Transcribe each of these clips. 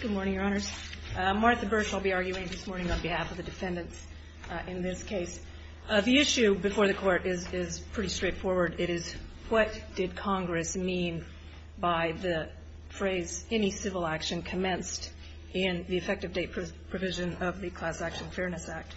Good morning, Your Honors. Martha Bush, I'll be arguing this morning on behalf of the defendants in this case. The issue before the Court is pretty straightforward. It is what did Congress mean by the phrase, any civil action commenced in the effective date provision of the Class Action Fairness Act,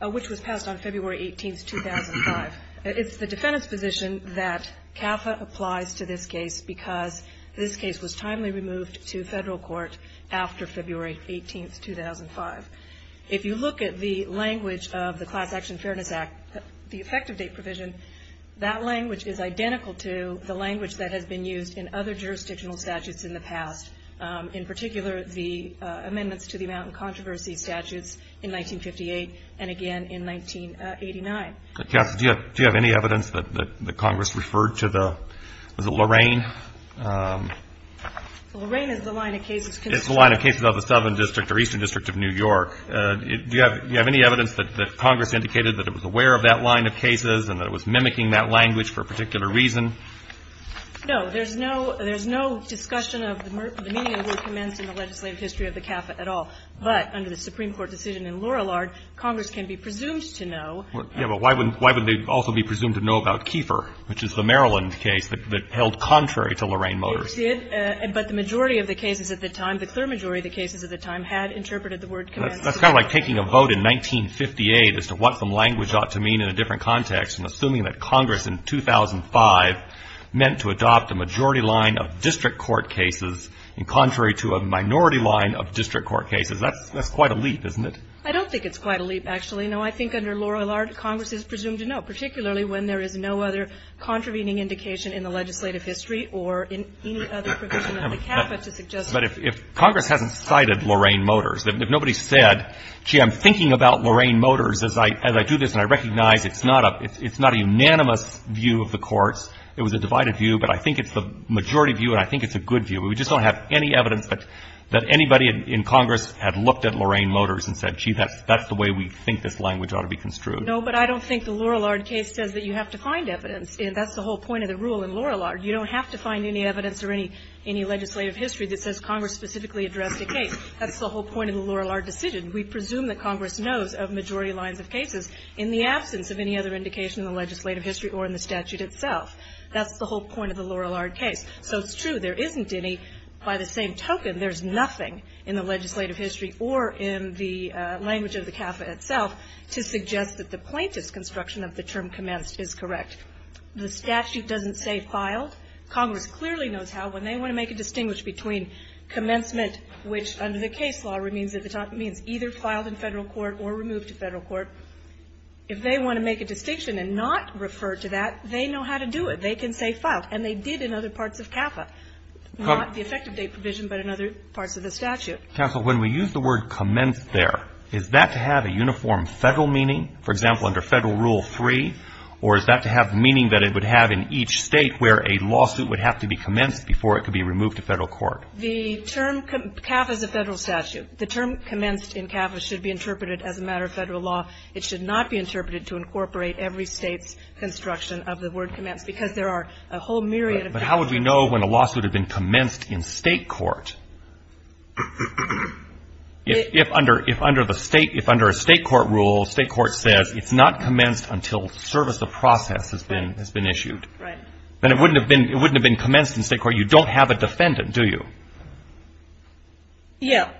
which was passed on February 18, 2005. It's the defendant's position that CAFA applies to this case because this case was timely removed to federal court after February 18, 2005. If you look at the language of the Class Action Fairness Act, the effective date provision, that language is identical to the language that has been used in other jurisdictional statutes in the past, in particular the amendments to the amount and controversy statutes in 1958 and again in 1989. Justice, do you have any evidence that Congress referred to the, was it Lorraine? Lorraine is the line of cases. It's the line of cases of the Southern District or Eastern District of New York. Do you have any evidence that Congress indicated that it was aware of that line of cases and that it was mimicking that language for a particular reason? No. There's no discussion of the meeting that commenced in the legislative history of the CAFA at all. But under the Supreme Court decision in Lorillard, Congress can be presumed to know. Yeah, but why would they also be presumed to know about Kiefer, which is the Maryland case that held contrary to Lorraine Motors? It did, but the majority of the cases at the time, the clear majority of the cases at the time had interpreted the word commenced. That's kind of like taking a vote in 1958 as to what some language ought to mean in a different context and assuming that Congress in 2005 meant to adopt a majority line of district court cases and contrary to a minority line of district court cases. That's quite a leap, isn't it? I don't think it's quite a leap, actually. No, I think under Lorillard, Congress is presumed to know, particularly when there is no other contravening indication in the legislative history or in any other provision of the CAFA to suggest that. But if Congress hasn't cited Lorraine Motors, if nobody said, gee, I'm thinking about Lorraine Motors as I do this and I recognize it's not a unanimous view of the courts, it was a divided view, but I think it's the majority view and I think it's a good view. No, but I don't think the Lorillard case says that you have to find evidence. That's the whole point of the rule in Lorillard. You don't have to find any evidence or any legislative history that says Congress specifically addressed a case. That's the whole point of the Lorillard decision. We presume that Congress knows of majority lines of cases in the absence of any other indication in the legislative history or in the statute itself. That's the whole point of the Lorillard case. So it's true there isn't any. By the same token, there's nothing in the legislative history or in the language of the CAFA itself to suggest that the plaintiff's construction of the term commenced is correct. The statute doesn't say filed. Congress clearly knows how. When they want to make a distinguish between commencement, which under the case law means either filed in federal court or removed to federal court, if they want to make a distinction and not refer to that, they know how to do it. They can say filed. And they did in other parts of CAFA, not the effective date provision, but in other parts of the statute. Counsel, when we use the word commenced there, is that to have a uniform federal meaning, for example, under Federal Rule 3, or is that to have meaning that it would have in each State where a lawsuit would have to be commenced before it could be removed to federal court? The term CAFA is a Federal statute. The term commenced in CAFA should be interpreted as a matter of Federal law. It should not be interpreted to incorporate every State's construction of the word commenced, because there are a whole myriad of different cases. But how would we know when a lawsuit had been commenced in State court? If under the State, if under a State court rule, State court says it's not commenced until service of process has been issued. Right. Then it wouldn't have been commenced in State court. You don't have a defendant, do you? Yeah.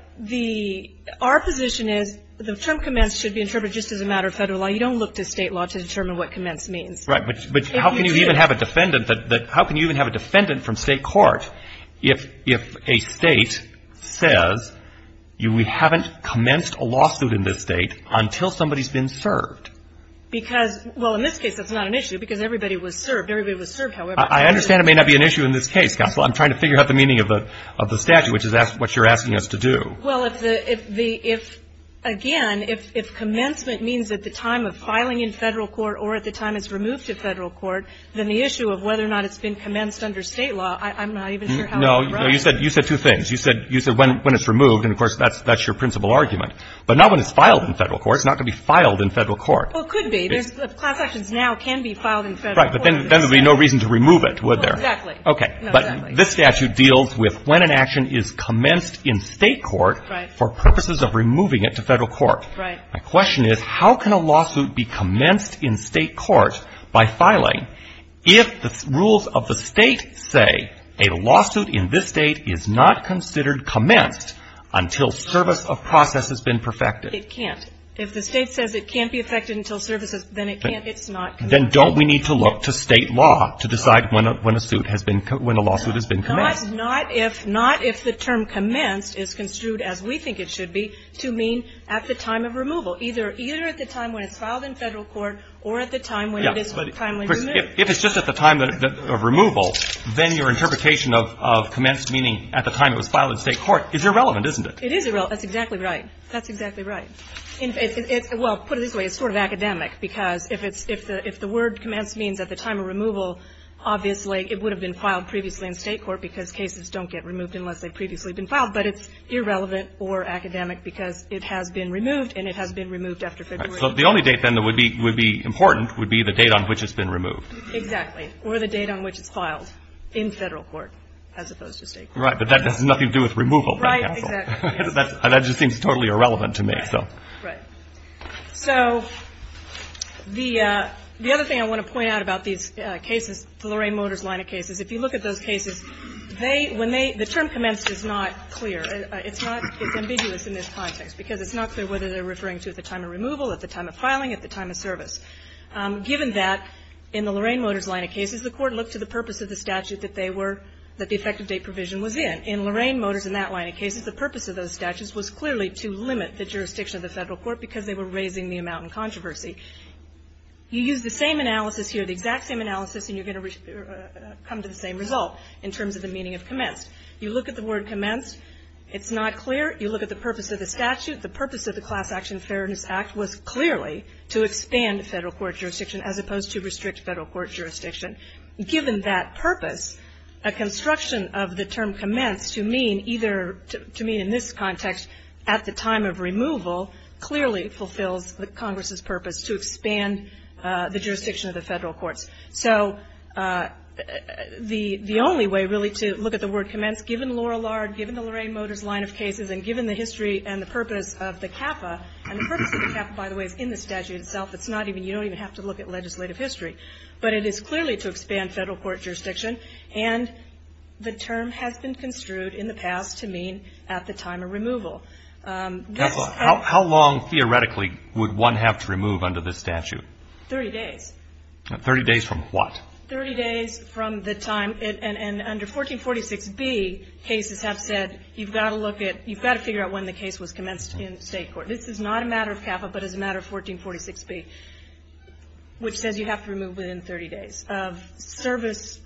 Our position is the term commenced should be interpreted just as a matter of Federal law. You don't look to State law to determine what commenced means. Right. But how can you even have a defendant that, how can you even have a defendant from State court if a State says you haven't commenced a lawsuit in this State until somebody has been served? Because, well, in this case that's not an issue, because everybody was served. Everybody was served, however. I understand it may not be an issue in this case, Counsel. I'm trying to figure out the meaning of the statute, which is what you're asking us to do. Well, if the, if, again, if commencement means at the time of filing in Federal court or at the time it's removed to Federal court, then the issue of whether or not it's been commenced under State law, I'm not even sure how to write it. No. You said two things. You said when it's removed, and, of course, that's your principal argument. But not when it's filed in Federal court. It's not going to be filed in Federal court. Well, it could be. Class actions now can be filed in Federal court. Right. But then there would be no reason to remove it, would there? Exactly. Okay. But this statute deals with when an action is commenced in State court for purposes of removing it to Federal court. Right. My question is, how can a lawsuit be commenced in State court by filing if the rules of the State say a lawsuit in this State is not considered commenced until service of process has been perfected? It can't. If the State says it can't be perfected until services, then it can't, it's not. Then don't we need to look to State law to decide when a suit has been, when a lawsuit has been commenced? Not if, not if the term commenced is construed as we think it should be to mean at the time of removal, either, either at the time when it's filed in Federal court or at the time when it is timely removed. If it's just at the time of removal, then your interpretation of commenced meaning at the time it was filed in State court is irrelevant, isn't it? It is irrelevant. That's exactly right. That's exactly right. Well, put it this way, it's sort of academic because if it's, if the word commenced means at the time of removal, obviously it would have been filed previously in State court because cases don't get removed unless they've previously been filed, but it's irrelevant or academic because it has been removed and it has been removed after February. So the only date then that would be, would be important would be the date on which it's been removed. Exactly. Or the date on which it's filed in Federal court as opposed to State court. Right, but that has nothing to do with removal. Right, exactly. That just seems totally irrelevant to me, so. Right. So the, the other thing I want to point out about these cases, the Lorraine Motors line of cases, if you look at those cases, they, when they, the term commenced is not clear. It's not, it's ambiguous in this context because it's not clear whether they're referring to at the time of removal, at the time of filing, at the time of service. Given that, in the Lorraine Motors line of cases, the court looked to the purpose of the statute that they were, that the effective date provision was in. In Lorraine Motors and that line of cases, the purpose of those statutes was clearly to limit the jurisdiction of the Federal court because they were raising the amount in controversy. You use the same analysis here, the exact same analysis, and you're going to come to the same result in terms of the meaning of commenced. You look at the word commenced, it's not clear. You look at the purpose of the statute, the purpose of the Class Action Fairness Act was clearly to expand Federal court jurisdiction as opposed to restrict Federal court jurisdiction. Given that purpose, a construction of the term commenced to mean either, to mean in this context, at the time of removal, clearly fulfills the Congress's purpose to expand the jurisdiction of the Federal courts. So, the only way, really, to look at the word commenced, given Lorillard, given the Lorraine Motors line of cases, and given the history and the purpose of the CAFA, and the purpose of the CAFA, by the way, is in the statute itself. It's not even, you don't even have to look at legislative history. But it is clearly to expand Federal court jurisdiction, and the term has been construed in the past to mean at the time of removal. This. How long, theoretically, would one have to remove under this statute? Thirty days. Thirty days from what? Thirty days from the time, and under 1446B, cases have said, you've got to look at, you've got to figure out when the case was commenced in State court. This is not a matter of CAFA, but is a matter of 1446B, which says you have to remove within 30 days of service,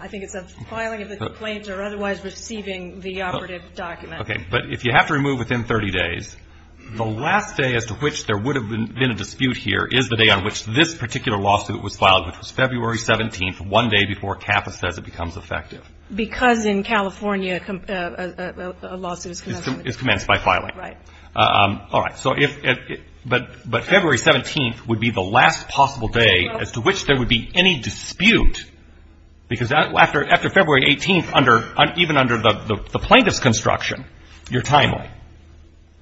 I think it's of filing of a complaint or otherwise receiving the operative document. Okay. But if you have to remove within 30 days, the last day as to which there would be any dispute, because after February 18th, even under the plaintiff's construction, you're timely.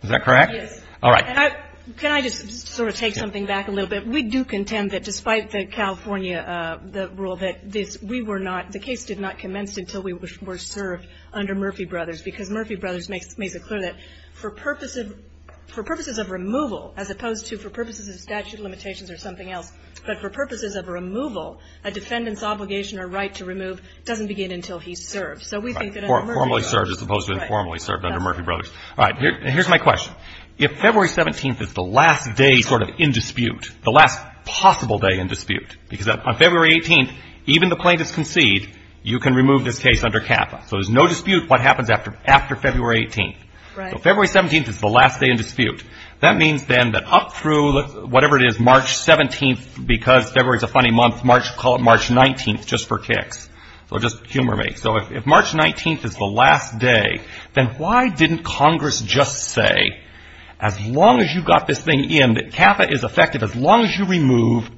Is that correct? Yes. All right. Can I just sort of take something back a little bit? Because in California, a lawsuit is commenced by filing. Right. All right. Despite the California, the rule that this, we were not, the case did not commence until we were served under Murphy Brothers, because Murphy Brothers makes it clear that for purposes of removal, as opposed to for purposes of statute of limitations or something else, but for purposes of removal, a defendant's obligation or right to remove doesn't begin until he's served. So we think that under Murphy Brothers. Right. Formally served as opposed to informally served under Murphy Brothers. All right. Here's my question. If February 17th is the last day sort of in dispute, the last possible day in dispute, because on February 18th, even the plaintiffs concede, you can remove this case under CAFA. So there's no dispute what happens after February 18th. Right. So February 17th is the last day in dispute. That means then that up through whatever it is, March 17th, because February is a funny month, call it March 19th, just for kicks. So just humor me. So if March 19th is the last day, then why didn't Congress just say, as long as you've got this thing in, that CAFA is effective as long as you remove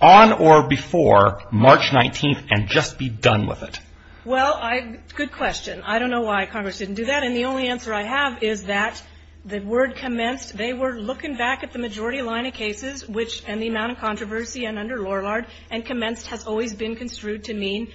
on or before March 19th and just be done with it? Well, good question. I don't know why Congress didn't do that. And the only answer I have is that the word commenced. They were looking back at the majority line of cases and the amount of controversy under Lorillard, and commenced has always been construed to mean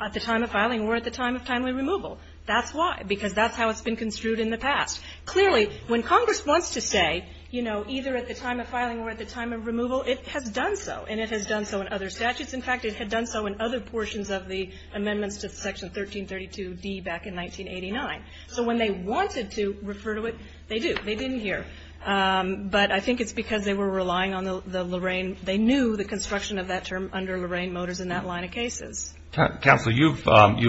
at the time of filing or at the time of timely removal. That's why, because that's how it's been construed in the past. Clearly, when Congress wants to say, you know, either at the time of filing or at the time of removal, it has done so, and it has done so in other statutes. In fact, it had done so in other portions of the amendments to Section 1332d back in 1989. So when they wanted to refer to it, they do. They didn't hear. But I think it's because they were relying on the Lorraine. They knew the construction of that term under Lorraine Motors in that line of cases. Counsel, you've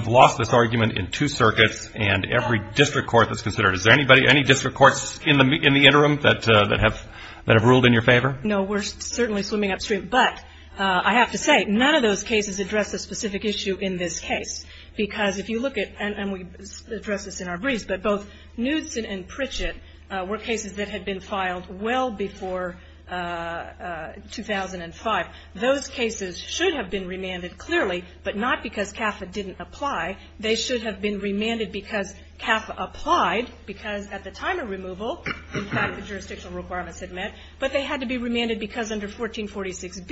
lost this argument in two circuits, and every district court that's considered it. Is there any district courts in the interim that have ruled in your favor? No, we're certainly swimming upstream. But I have to say, none of those cases address a specific issue in this case, because if you look at, and we address this in our briefs, but both Knudsen and Pritchett were cases that had been filed well before 2005. Those cases should have been remanded clearly, but not because CAFA didn't apply. They should have been remanded because CAFA applied, because at the time of removal, in fact, the jurisdictional requirements had met. But they had to be remanded because under 1446b,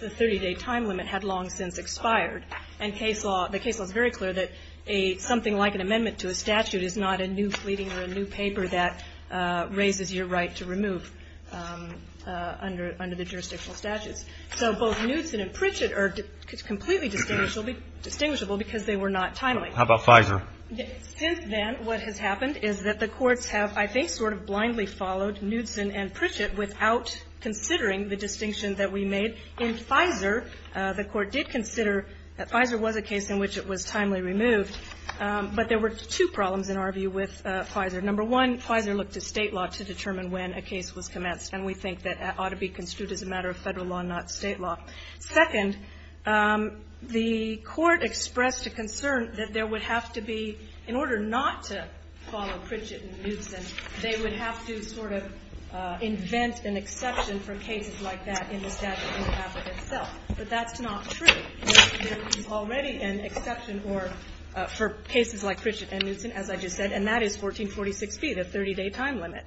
the 30-day time limit had long since expired. And the case law is very clear that something like an amendment to a statute is not a new fleeting or a new paper that raises your right to remove under the jurisdictional statutes. So both Knudsen and Pritchett are completely distinguishable because they were not timely. How about FISA? Since then, what has happened is that the courts have, I think, sort of blindly followed Knudsen and Pritchett without considering the distinction that we made. In FISA, the Court did consider that FISA was a case in which it was timely removed, but there were two problems, in our view, with FISA. Number one, FISA looked at State law to determine when a case was commenced, and we think that ought to be construed as a matter of Federal law, not State law. Second, the Court expressed a concern that there would have to be, in order not to follow Pritchett and Knudsen, they would have to sort of invent an exception for cases like that in the statute in the statute itself. But that's not true. There is already an exception for cases like Pritchett and Knudsen, as I just said, and that is 1446B, the 30-day time limit.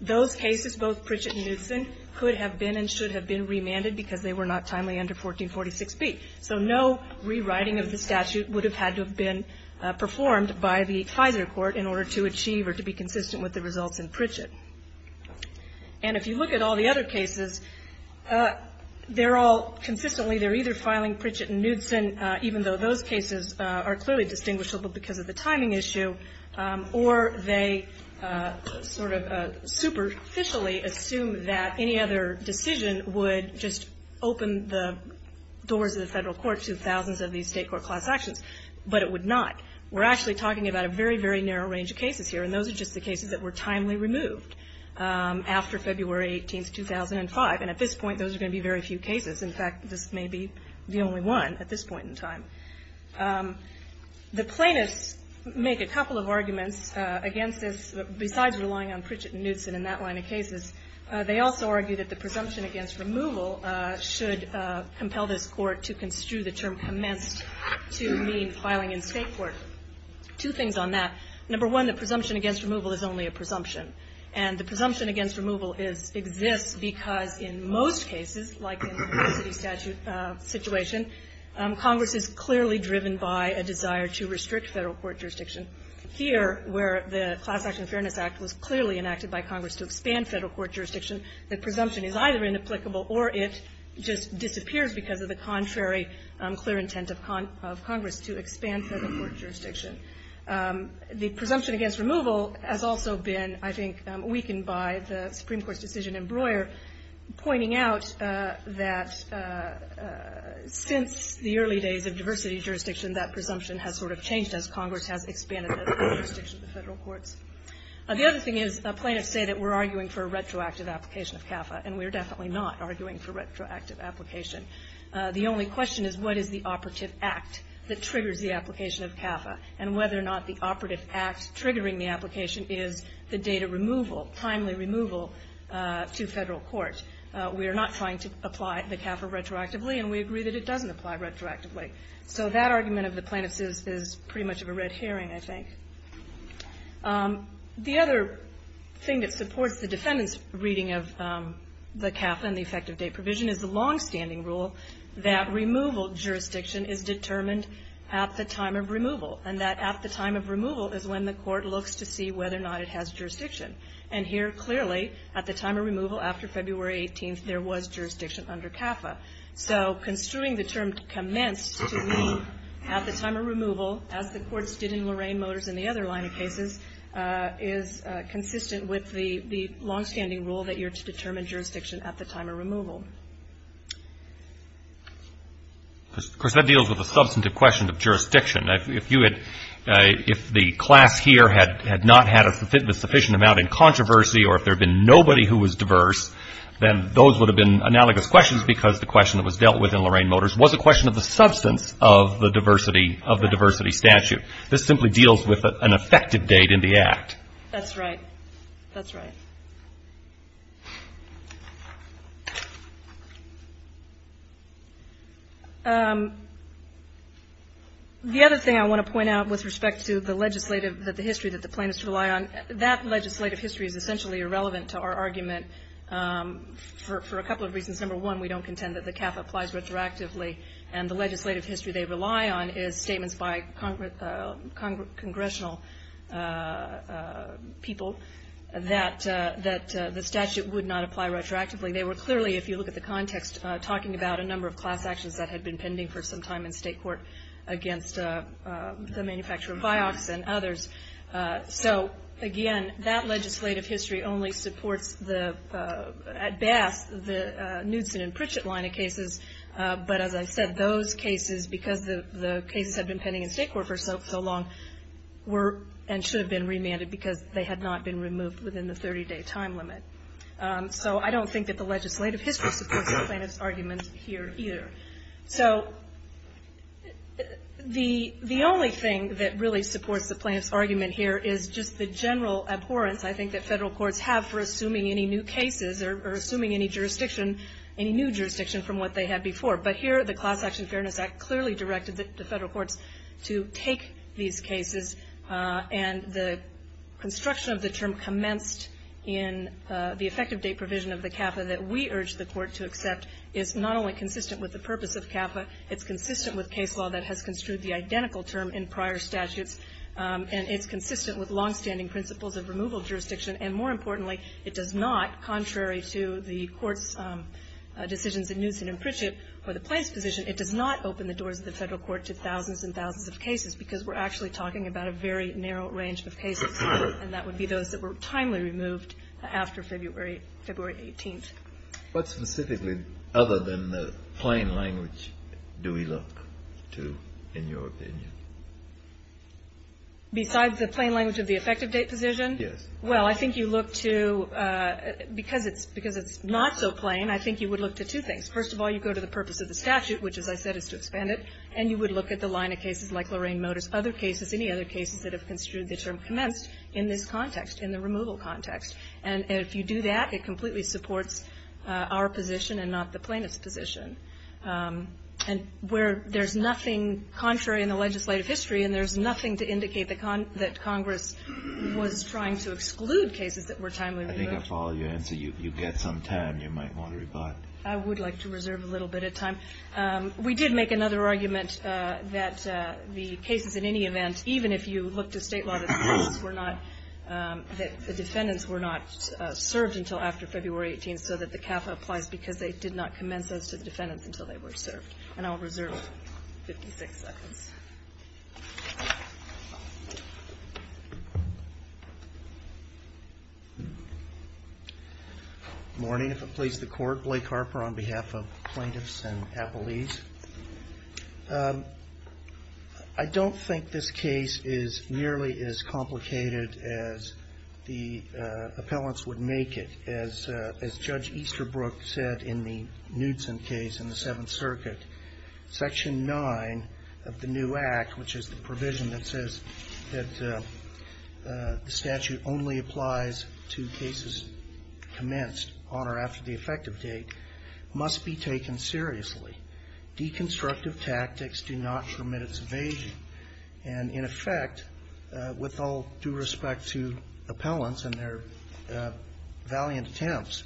Those cases, both Pritchett and Knudsen, could have been and should have been remanded because they were not timely under 1446B. So no rewriting of the statute would have had to have been performed by the FISA Court in order to achieve or to be consistent with the results in Pritchett. And if you look at all the other cases, they're all consistently, they're either filing Pritchett and Knudsen, even though those cases are clearly distinguishable because of the timing issue, or they sort of superficially assume that any other decision would just open the doors of the Federal Court to thousands of these State court class actions, but it would not. We're actually talking about a very, very narrow range of cases here, and those are just the cases that were timely removed after February 18, 2005. And at this point, those are going to be very few cases. In fact, this may be the only one at this point in time. The plaintiffs make a couple of arguments against this, besides relying on Pritchett and Knudsen in that line of cases. They also argue that the presumption against removal should compel this Court to construe the term commenced to mean filing in State court. Two things on that. Number one, the presumption against removal is only a presumption. And the presumption against removal exists because in most cases, like in the city statute situation, Congress is clearly driven by a desire to restrict Federal Court jurisdiction. Here, where the Class Action Fairness Act was clearly enacted by Congress to expand Federal Court jurisdiction, the presumption is either inapplicable or it just disappears because of the contrary clear intent of Congress to expand Federal Court jurisdiction. The presumption against removal has also been, I think, weakened by the Supreme Court's decision in Breuer pointing out that since the early days of diversity jurisdiction, that presumption has sort of changed as Congress has expanded the jurisdiction of the Federal courts. The other thing is, plaintiffs say that we're arguing for a retroactive application of CAFA, and we're definitely not arguing for retroactive application. The only question is what is the operative act that triggers the application of CAFA, and whether or not the operative act triggering the application is the data removal, timely removal to Federal court. We are not trying to apply the CAFA retroactively, and we agree that it doesn't apply retroactively. So that argument of the plaintiffs' is pretty much of a red herring, I think. The other thing that supports the defendant's reading of the CAFA and the effective date provision is the longstanding rule that removal jurisdiction is determined at the time of removal. And that at the time of removal is when the court looks to see whether or not it has jurisdiction. And here, clearly, at the time of removal after February 18th, there was jurisdiction under CAFA. So construing the term commenced to mean at the time of removal, as the courts did in Lorraine Motors and the other line of cases, is consistent with the longstanding rule that you're to determine jurisdiction at the time of removal. Of course, that deals with the substantive question of jurisdiction. If the class here had not had a sufficient amount in controversy, or if there had been nobody who was diverse, then those would have been analogous questions because the question that was dealt with in Lorraine Motors was a question of the substance of the diversity statute. This simply deals with an effective date in the Act. That's right. That's right. The other thing I want to point out with respect to the legislative, that the history that the plaintiffs rely on, that legislative history is essentially irrelevant to our argument for a couple of reasons. Number one, we don't contend that the CAFA applies retroactively. And the legislative history they rely on is statements by congressional people that the statute would not apply retroactively. They were clearly, if you look at the context, talking about a number of class actions that had been pending for some time in state court against the manufacturer of Vioxx and others. So again, that legislative history only supports the, at best, the Knudson and Pritchett line of cases. But as I said, those cases, because the cases had been pending in state court for so long, were and should have been remanded because they had not been removed within the 30-day time limit. So I don't think that the legislative history supports the plaintiff's argument here either. So the only thing that really supports the plaintiff's argument here is just the general abhorrence, I think, that federal courts have for assuming any new cases or assuming any jurisdiction, any new jurisdiction from what they had before. But here, the Class Action Fairness Act clearly directed the federal courts to take these cases. And the construction of the term commenced in the effective date provision of the CAFA that we urge the Court to accept is not only consistent with the purpose of CAFA, it's consistent with case law that has construed the identical term in prior statutes. And it's consistent with longstanding principles of removal jurisdiction. And more importantly, it does not, contrary to the Court's decisions in Newson and Pritchett for the plaintiff's position, it does not open the doors of the federal court to thousands and thousands of cases, because we're actually talking about a very narrow range of cases, and that would be those that were timely removed after February 18th. What specifically, other than the plain language, do we look to in your opinion? Besides the plain language of the effective date provision? Well, I think you look to, because it's not so plain, I think you would look to two things. First of all, you go to the purpose of the statute, which, as I said, is to expand it, and you would look at the line of cases like Lorraine Motors, other cases, any other cases that have construed the term commenced in this context, in the removal context. And if you do that, it completely supports our position and not the plaintiff's position. And where there's nothing contrary in the legislative history, and there's nothing to indicate that Congress was trying to exclude cases that were timely removed. I think I follow your answer. You get some time. You might want to rebut. I would like to reserve a little bit of time. We did make another argument that the cases in any event, even if you look to State law, that the cases were not, that the defendants were not served until after February 18th, so that the CAFA applies, because they did not commence those to the defendants until they were served. And I will reserve 56 seconds. Morning. If it please the Court. Blake Harper on behalf of plaintiffs and appellees. I don't think this case is nearly as complicated as the appellants would make it. As Judge Easterbrook said in the Knudsen case in the Seventh Circuit, Section 9 of the new act, which is the provision that says that the statute only applies to cases commenced on or after the effective date, must be taken seriously. Deconstructive tactics do not permit its evasion. And in effect, with all due respect to appellants and their valiant attempts,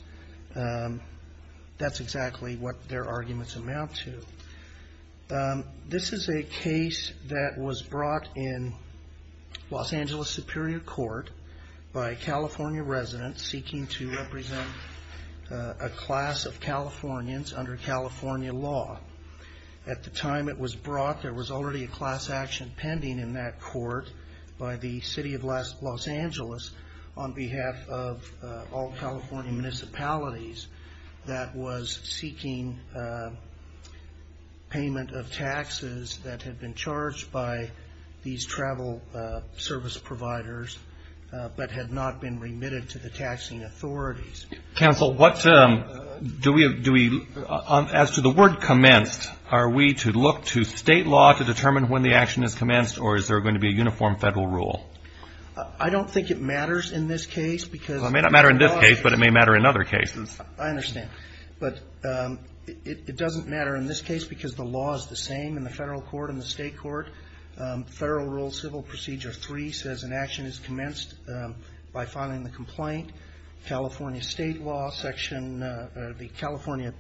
that's exactly what their arguments amount to. This is a case that was brought in Los Angeles Superior Court by a California resident seeking to represent a class of Californians under California law. At the time it was brought, there was already a class action pending in that court by the City of Los Angeles on behalf of all California municipalities that was seeking payment of taxes that had been charged by these travel service providers, but had not been remitted to the taxing authorities. Counsel, as to the word commenced, are we to look to state law to determine when the action is commenced, or is there going to be a uniform federal rule? I don't think it matters in this case. It may not matter in this case, but it may matter in other cases. I understand. But it doesn't matter in this case because the law is the same in the federal court and the state court. Federal Rule Civil Procedure 3 says an action is commenced by filing the complaint. California State Law Section, the California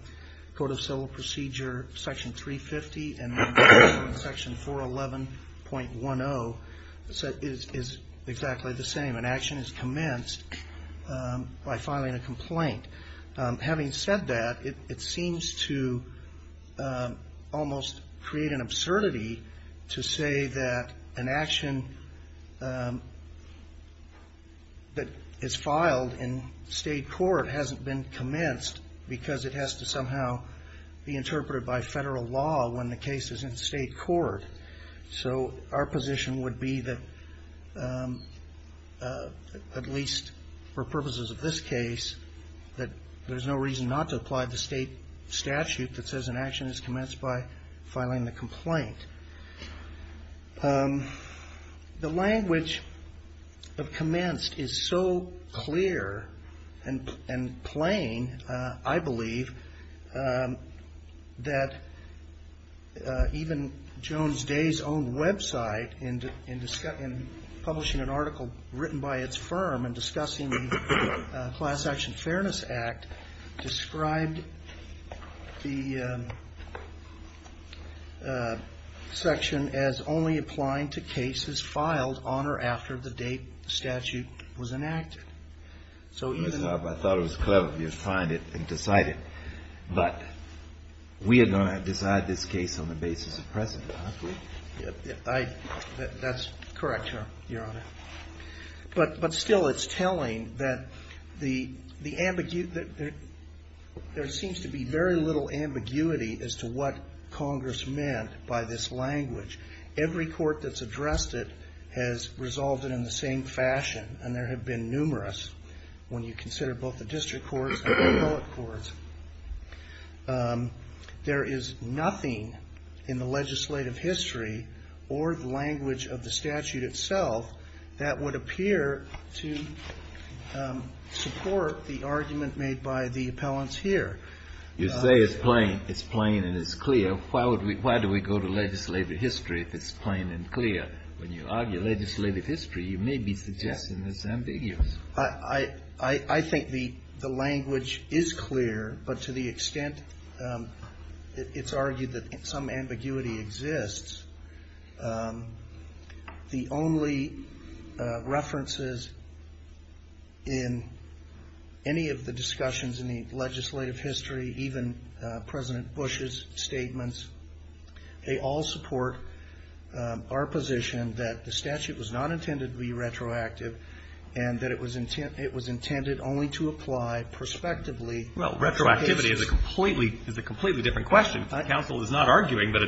Code of Civil Procedure Section 350 and Section 411.10 is exactly the same. An action is commenced by filing a complaint. Having said that, it seems to almost create an absurdity to say that an action that is filed in state court hasn't been commenced because it has to somehow be interpreted by federal law when the case is in state court. So our position would be that, at least for purposes of this case, that there's no reason not to apply the state statute that says an action is filing the complaint. The language of commenced is so clear and plain, I believe, that even Jones Day's own website in publishing an article written by its firm and discussing the Class Action Fairness Act described the section as only applying to cases filed on or after the date the statute was enacted. So even the ---- I thought it was clever of you to find it and decide it. But we are going to decide this case on the basis of precedent, aren't we? That's correct, Your Honor. But still it's telling that there seems to be very little ambiguity as to what Congress meant by this language. Every court that's addressed it has resolved it in the same fashion, and there have been numerous when you consider both the district courts and the appellate courts. There is nothing in the legislative history or the language of the statute itself that would appear to support the argument made by the appellants here. You say it's plain. It's plain and it's clear. Why would we go to legislative history if it's plain and clear? When you argue legislative history, you may be suggesting it's ambiguous. I think the language is clear, but to the extent it's argued that some ambiguity exists, the only references in any of the discussions in the legislative history, even President Bush's statements, they all support our position that the statute was not intended to be retroactive and that it was intended only to apply prospectively. Well, retroactivity is a completely different question. Counsel is not arguing that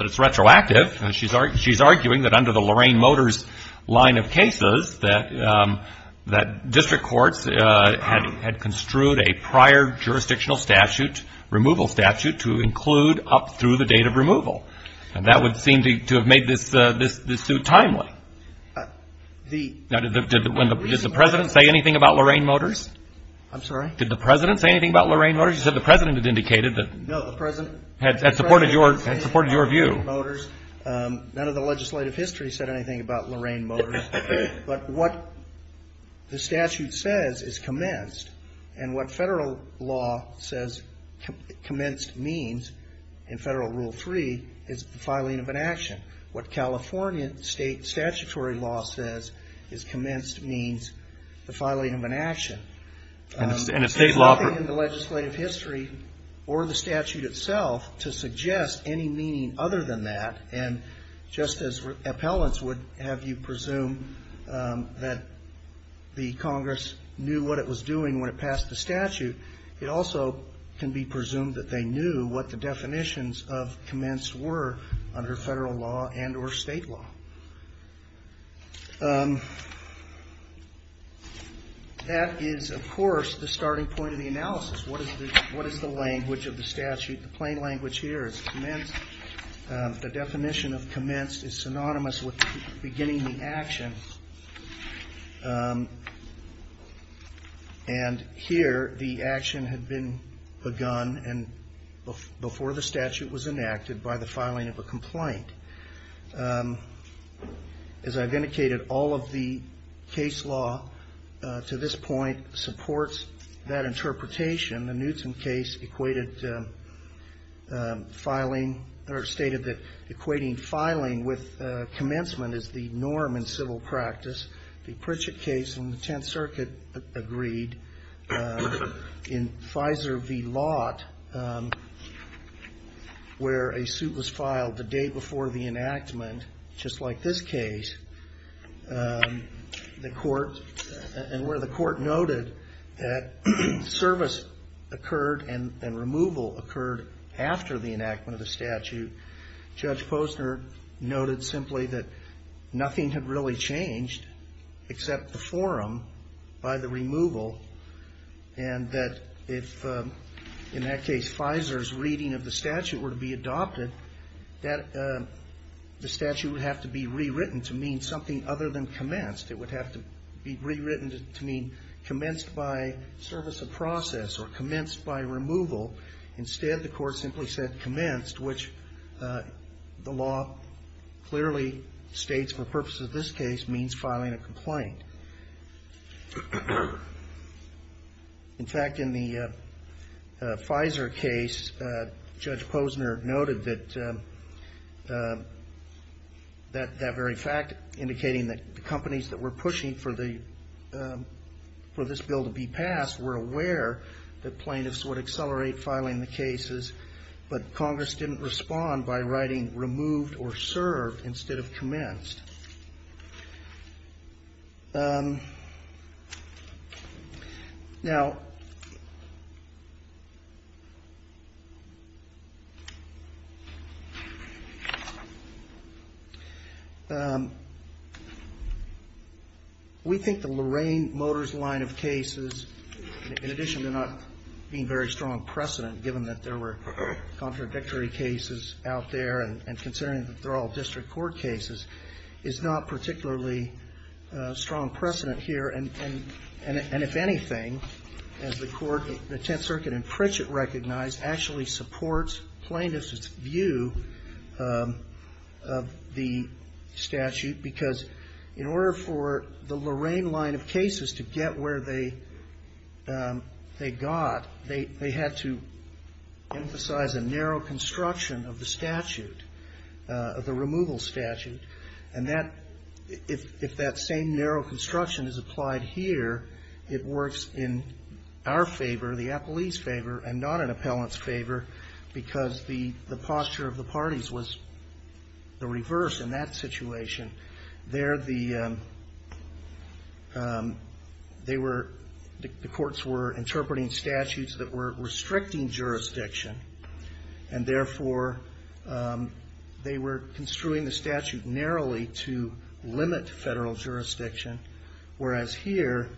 it's retroactive. She's arguing that under the Lorraine Motors line of cases, that district courts had construed a prior jurisdictional statute, removal statute, to include up through the date of removal. And that would seem to have made this suit timely. Did the President say anything about Lorraine Motors? I'm sorry? Did the President say anything about Lorraine Motors? You said the President had indicated that. No, the President. Had supported your view. None of the legislative history said anything about Lorraine Motors. But what the statute says is commenced, and what federal law says commenced means in Federal Rule 3 is the filing of an action. What California state statutory law says is commenced means the filing of an action. And if state law. It's not in the legislative history or the statute itself to suggest any meaning other than that. And just as appellants would have you presume that the Congress knew what it was doing when it passed the statute, it also can be presumed that they knew what the definitions of commenced were under federal law and or state law. That is, of course, the starting point of the analysis. What is the language of the statute? The plain language here is commenced. The definition of commenced is synonymous with beginning the action. And here the action had been begun and before the statute was enacted by the filing of a complaint. As I've indicated, all of the case law to this point supports that interpretation. The Newton case equated filing or stated that equating filing with commencement is the norm in civil practice. The Pritchett case in the Tenth Circuit agreed. In Fizer v. Lott, where a suit was filed the day before the enactment, just like this case, and where the court noted that service occurred and removal occurred after the enactment of the statute, Judge Posner noted simply that nothing had really changed except the forum by the removal, and that if in that case Fizer's reading of the statute were to be adopted, that the statute would have to be rewritten to mean something other than commenced. It would have to be rewritten to mean commenced by service of process or commenced by removal. Instead, the court simply said commenced, which the law clearly states for purposes of this case means filing a complaint. In fact, in the Fizer case, Judge Posner noted that very fact, indicating that the companies that were pushing for this bill to be passed were aware that plaintiffs would accelerate filing the cases, but Congress didn't respond by writing removed or served instead of commenced. Now, we think the Lorraine Motors line of cases, in addition to not being very strong precedent, given that there were contradictory cases out there and considering that they're all district court cases, is not particularly strong precedent here. And if anything, as the court, the Tenth Circuit and Pritchett recognized, actually supports plaintiffs' view of the statute, because in order for the Lorraine line of cases to get where they got, they had to emphasize a narrow construction of the statute, of the removal statute. And that, if that same narrow construction is applied here, it works in our favor, the appellee's favor, and not an appellant's favor, because the posture of the parties was the reverse in that situation. There, the courts were interpreting statutes that were restricting jurisdiction, and therefore, they were construing the statute narrowly to limit federal jurisdiction, whereas here,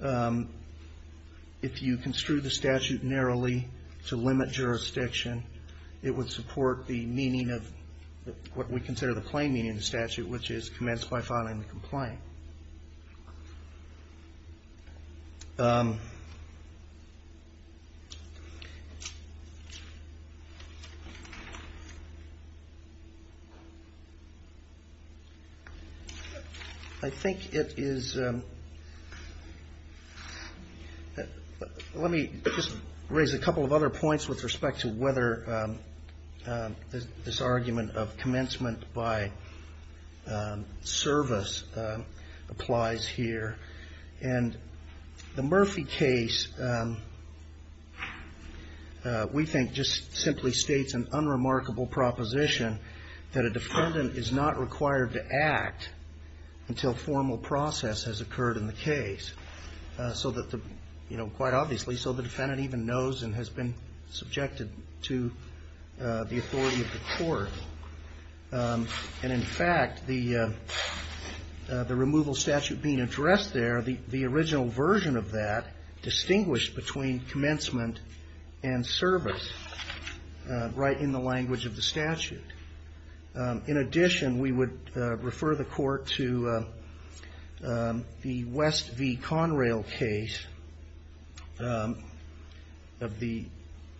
if you construe the statute narrowly to limit jurisdiction, it would support the meaning of what we consider the plain meaning of the statute, which is commenced by filing the complaint. I think it is, let me just raise a couple of other points with respect to whether this argument of commencement by service applies here. And the Murphy case, we think, just simply states an unremarkable proposition that a defendant is not required to act until formal process has occurred in the case, quite obviously, so the defendant even knows and has been subjected to the authority of the court. And in fact, the removal statute being addressed there, the original version of that, distinguished between commencement and service right in the language of the statute. In addition, we would refer the court to the West v. Conrail case of the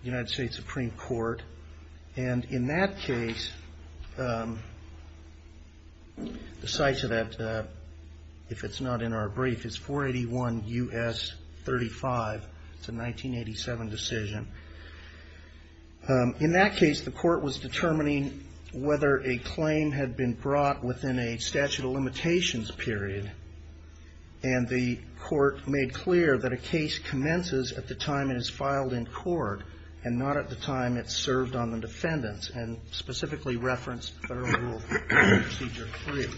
United States Supreme Court, and in that case, the size of that, if it's not in our brief, is 481 U.S. 35. It's a 1987 decision. In that case, the court was determining whether a claim had been brought within a statute of limitations period, and the court made clear that a case commences at the time it is filed in court and not at the time it's served on the defendants, and specifically referenced Federal Rule Procedure 3.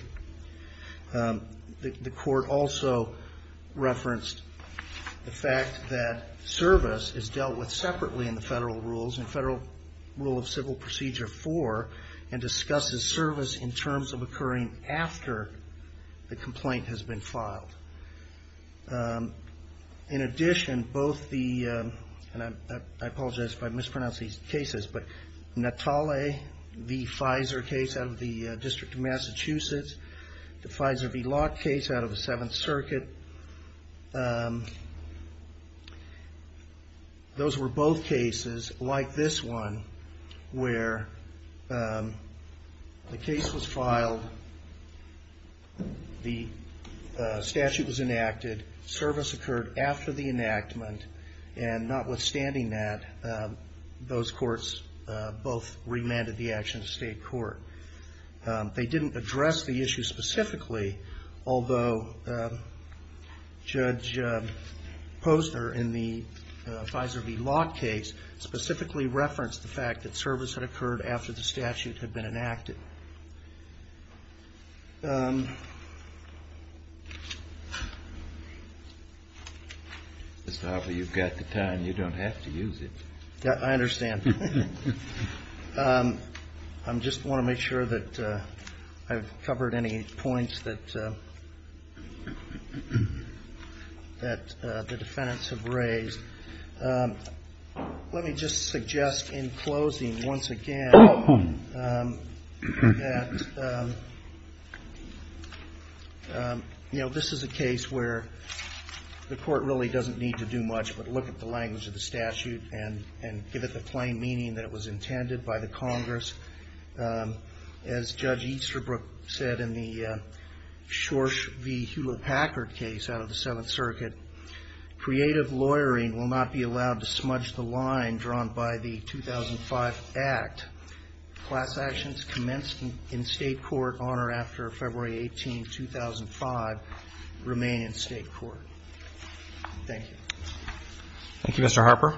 The court also referenced the fact that service is dealt with separately in the Federal Rules, in Federal Rule of Civil Procedure 4, and discusses service in terms of occurring after the complaint has been filed. In addition, both the, and I apologize if I mispronounce these cases, but Natale v. Fizer case out of the District of Massachusetts, the Fizer v. Locke case out of the Seventh Circuit, those were both cases like this one, where the case was filed, the statute was enacted, service occurred after the enactment, and notwithstanding that, those courts both remanded the action to state court. They didn't address the issue specifically, although Judge Posner in the Fizer v. Locke case specifically referenced the fact that service had occurred after the statute had been enacted. Mr. Harper, you've got the time. You don't have to use it. I understand. I just want to make sure that I've covered any points that the defendants have raised. Let me just suggest in closing, once again, that, you know, this is a case where, you know, the court really doesn't need to do much but look at the language of the statute and give it the plain meaning that it was intended by the Congress. As Judge Easterbrook said in the Shorsh v. Hewlett-Packard case out of the Seventh Circuit, creative lawyering will not be allowed to smudge the line drawn by the 2005 Act. Class actions commenced in state court on or after February 18, 2005, remain in state court. Thank you. Thank you, Mr. Harper.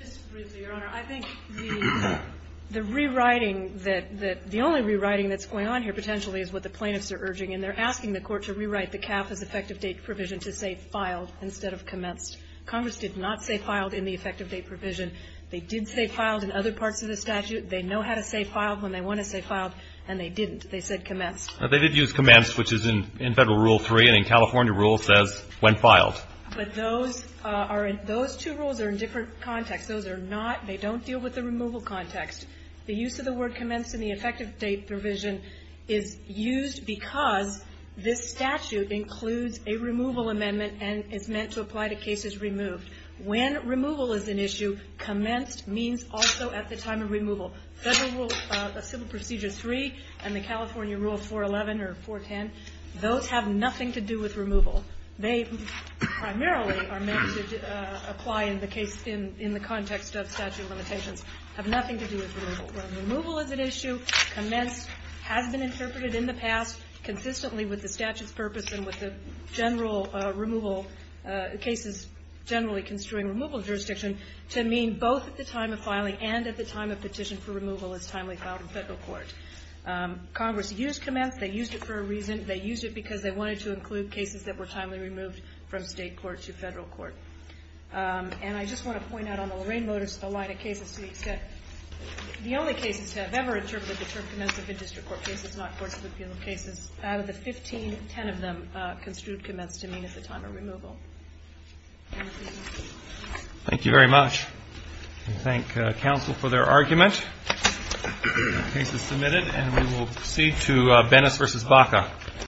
Just briefly, Your Honor. I think the rewriting that the only rewriting that's going on here potentially is what the plaintiffs are urging. And they're asking the Court to rewrite the CAF as effective date provision to say filed instead of commenced. Congress did not say filed in the effective date provision. They did say filed in other parts of the statute. They know how to say filed when they want to say filed, and they didn't. They said commenced. They did use commenced, which is in Federal Rule 3, and in California Rule says when filed. But those two rules are in different contexts. Those are not they don't deal with the removal context. The use of the word commenced in the effective date provision is used because this statute includes a removal amendment and is meant to apply to cases removed. When removal is an issue, commenced means also at the time of removal. Federal Rule Civil Procedure 3 and the California Rule 411 or 410, those have nothing to do with removal. They primarily are meant to apply in the case in the context of statute limitations, have nothing to do with removal. When removal is an issue, commenced has been interpreted in the past consistently with the statute's purpose and with the general removal cases generally construing removal jurisdiction to mean both at the time of filing and at the time of petition for removal as timely filed in federal court. Congress used commenced. They used it for a reason. They used it because they wanted to include cases that were timely removed from state court to federal court. And I just want to point out on the Lorraine Notice the line of cases to the extent, the only cases to have ever interpreted the term commenced have been district court cases, not courts of appeal cases. Out of the 15, 10 of them construed commenced to mean at the time of removal. Thank you very much. We thank counsel for their argument. The case is submitted and we will proceed to Bennis v. Baca.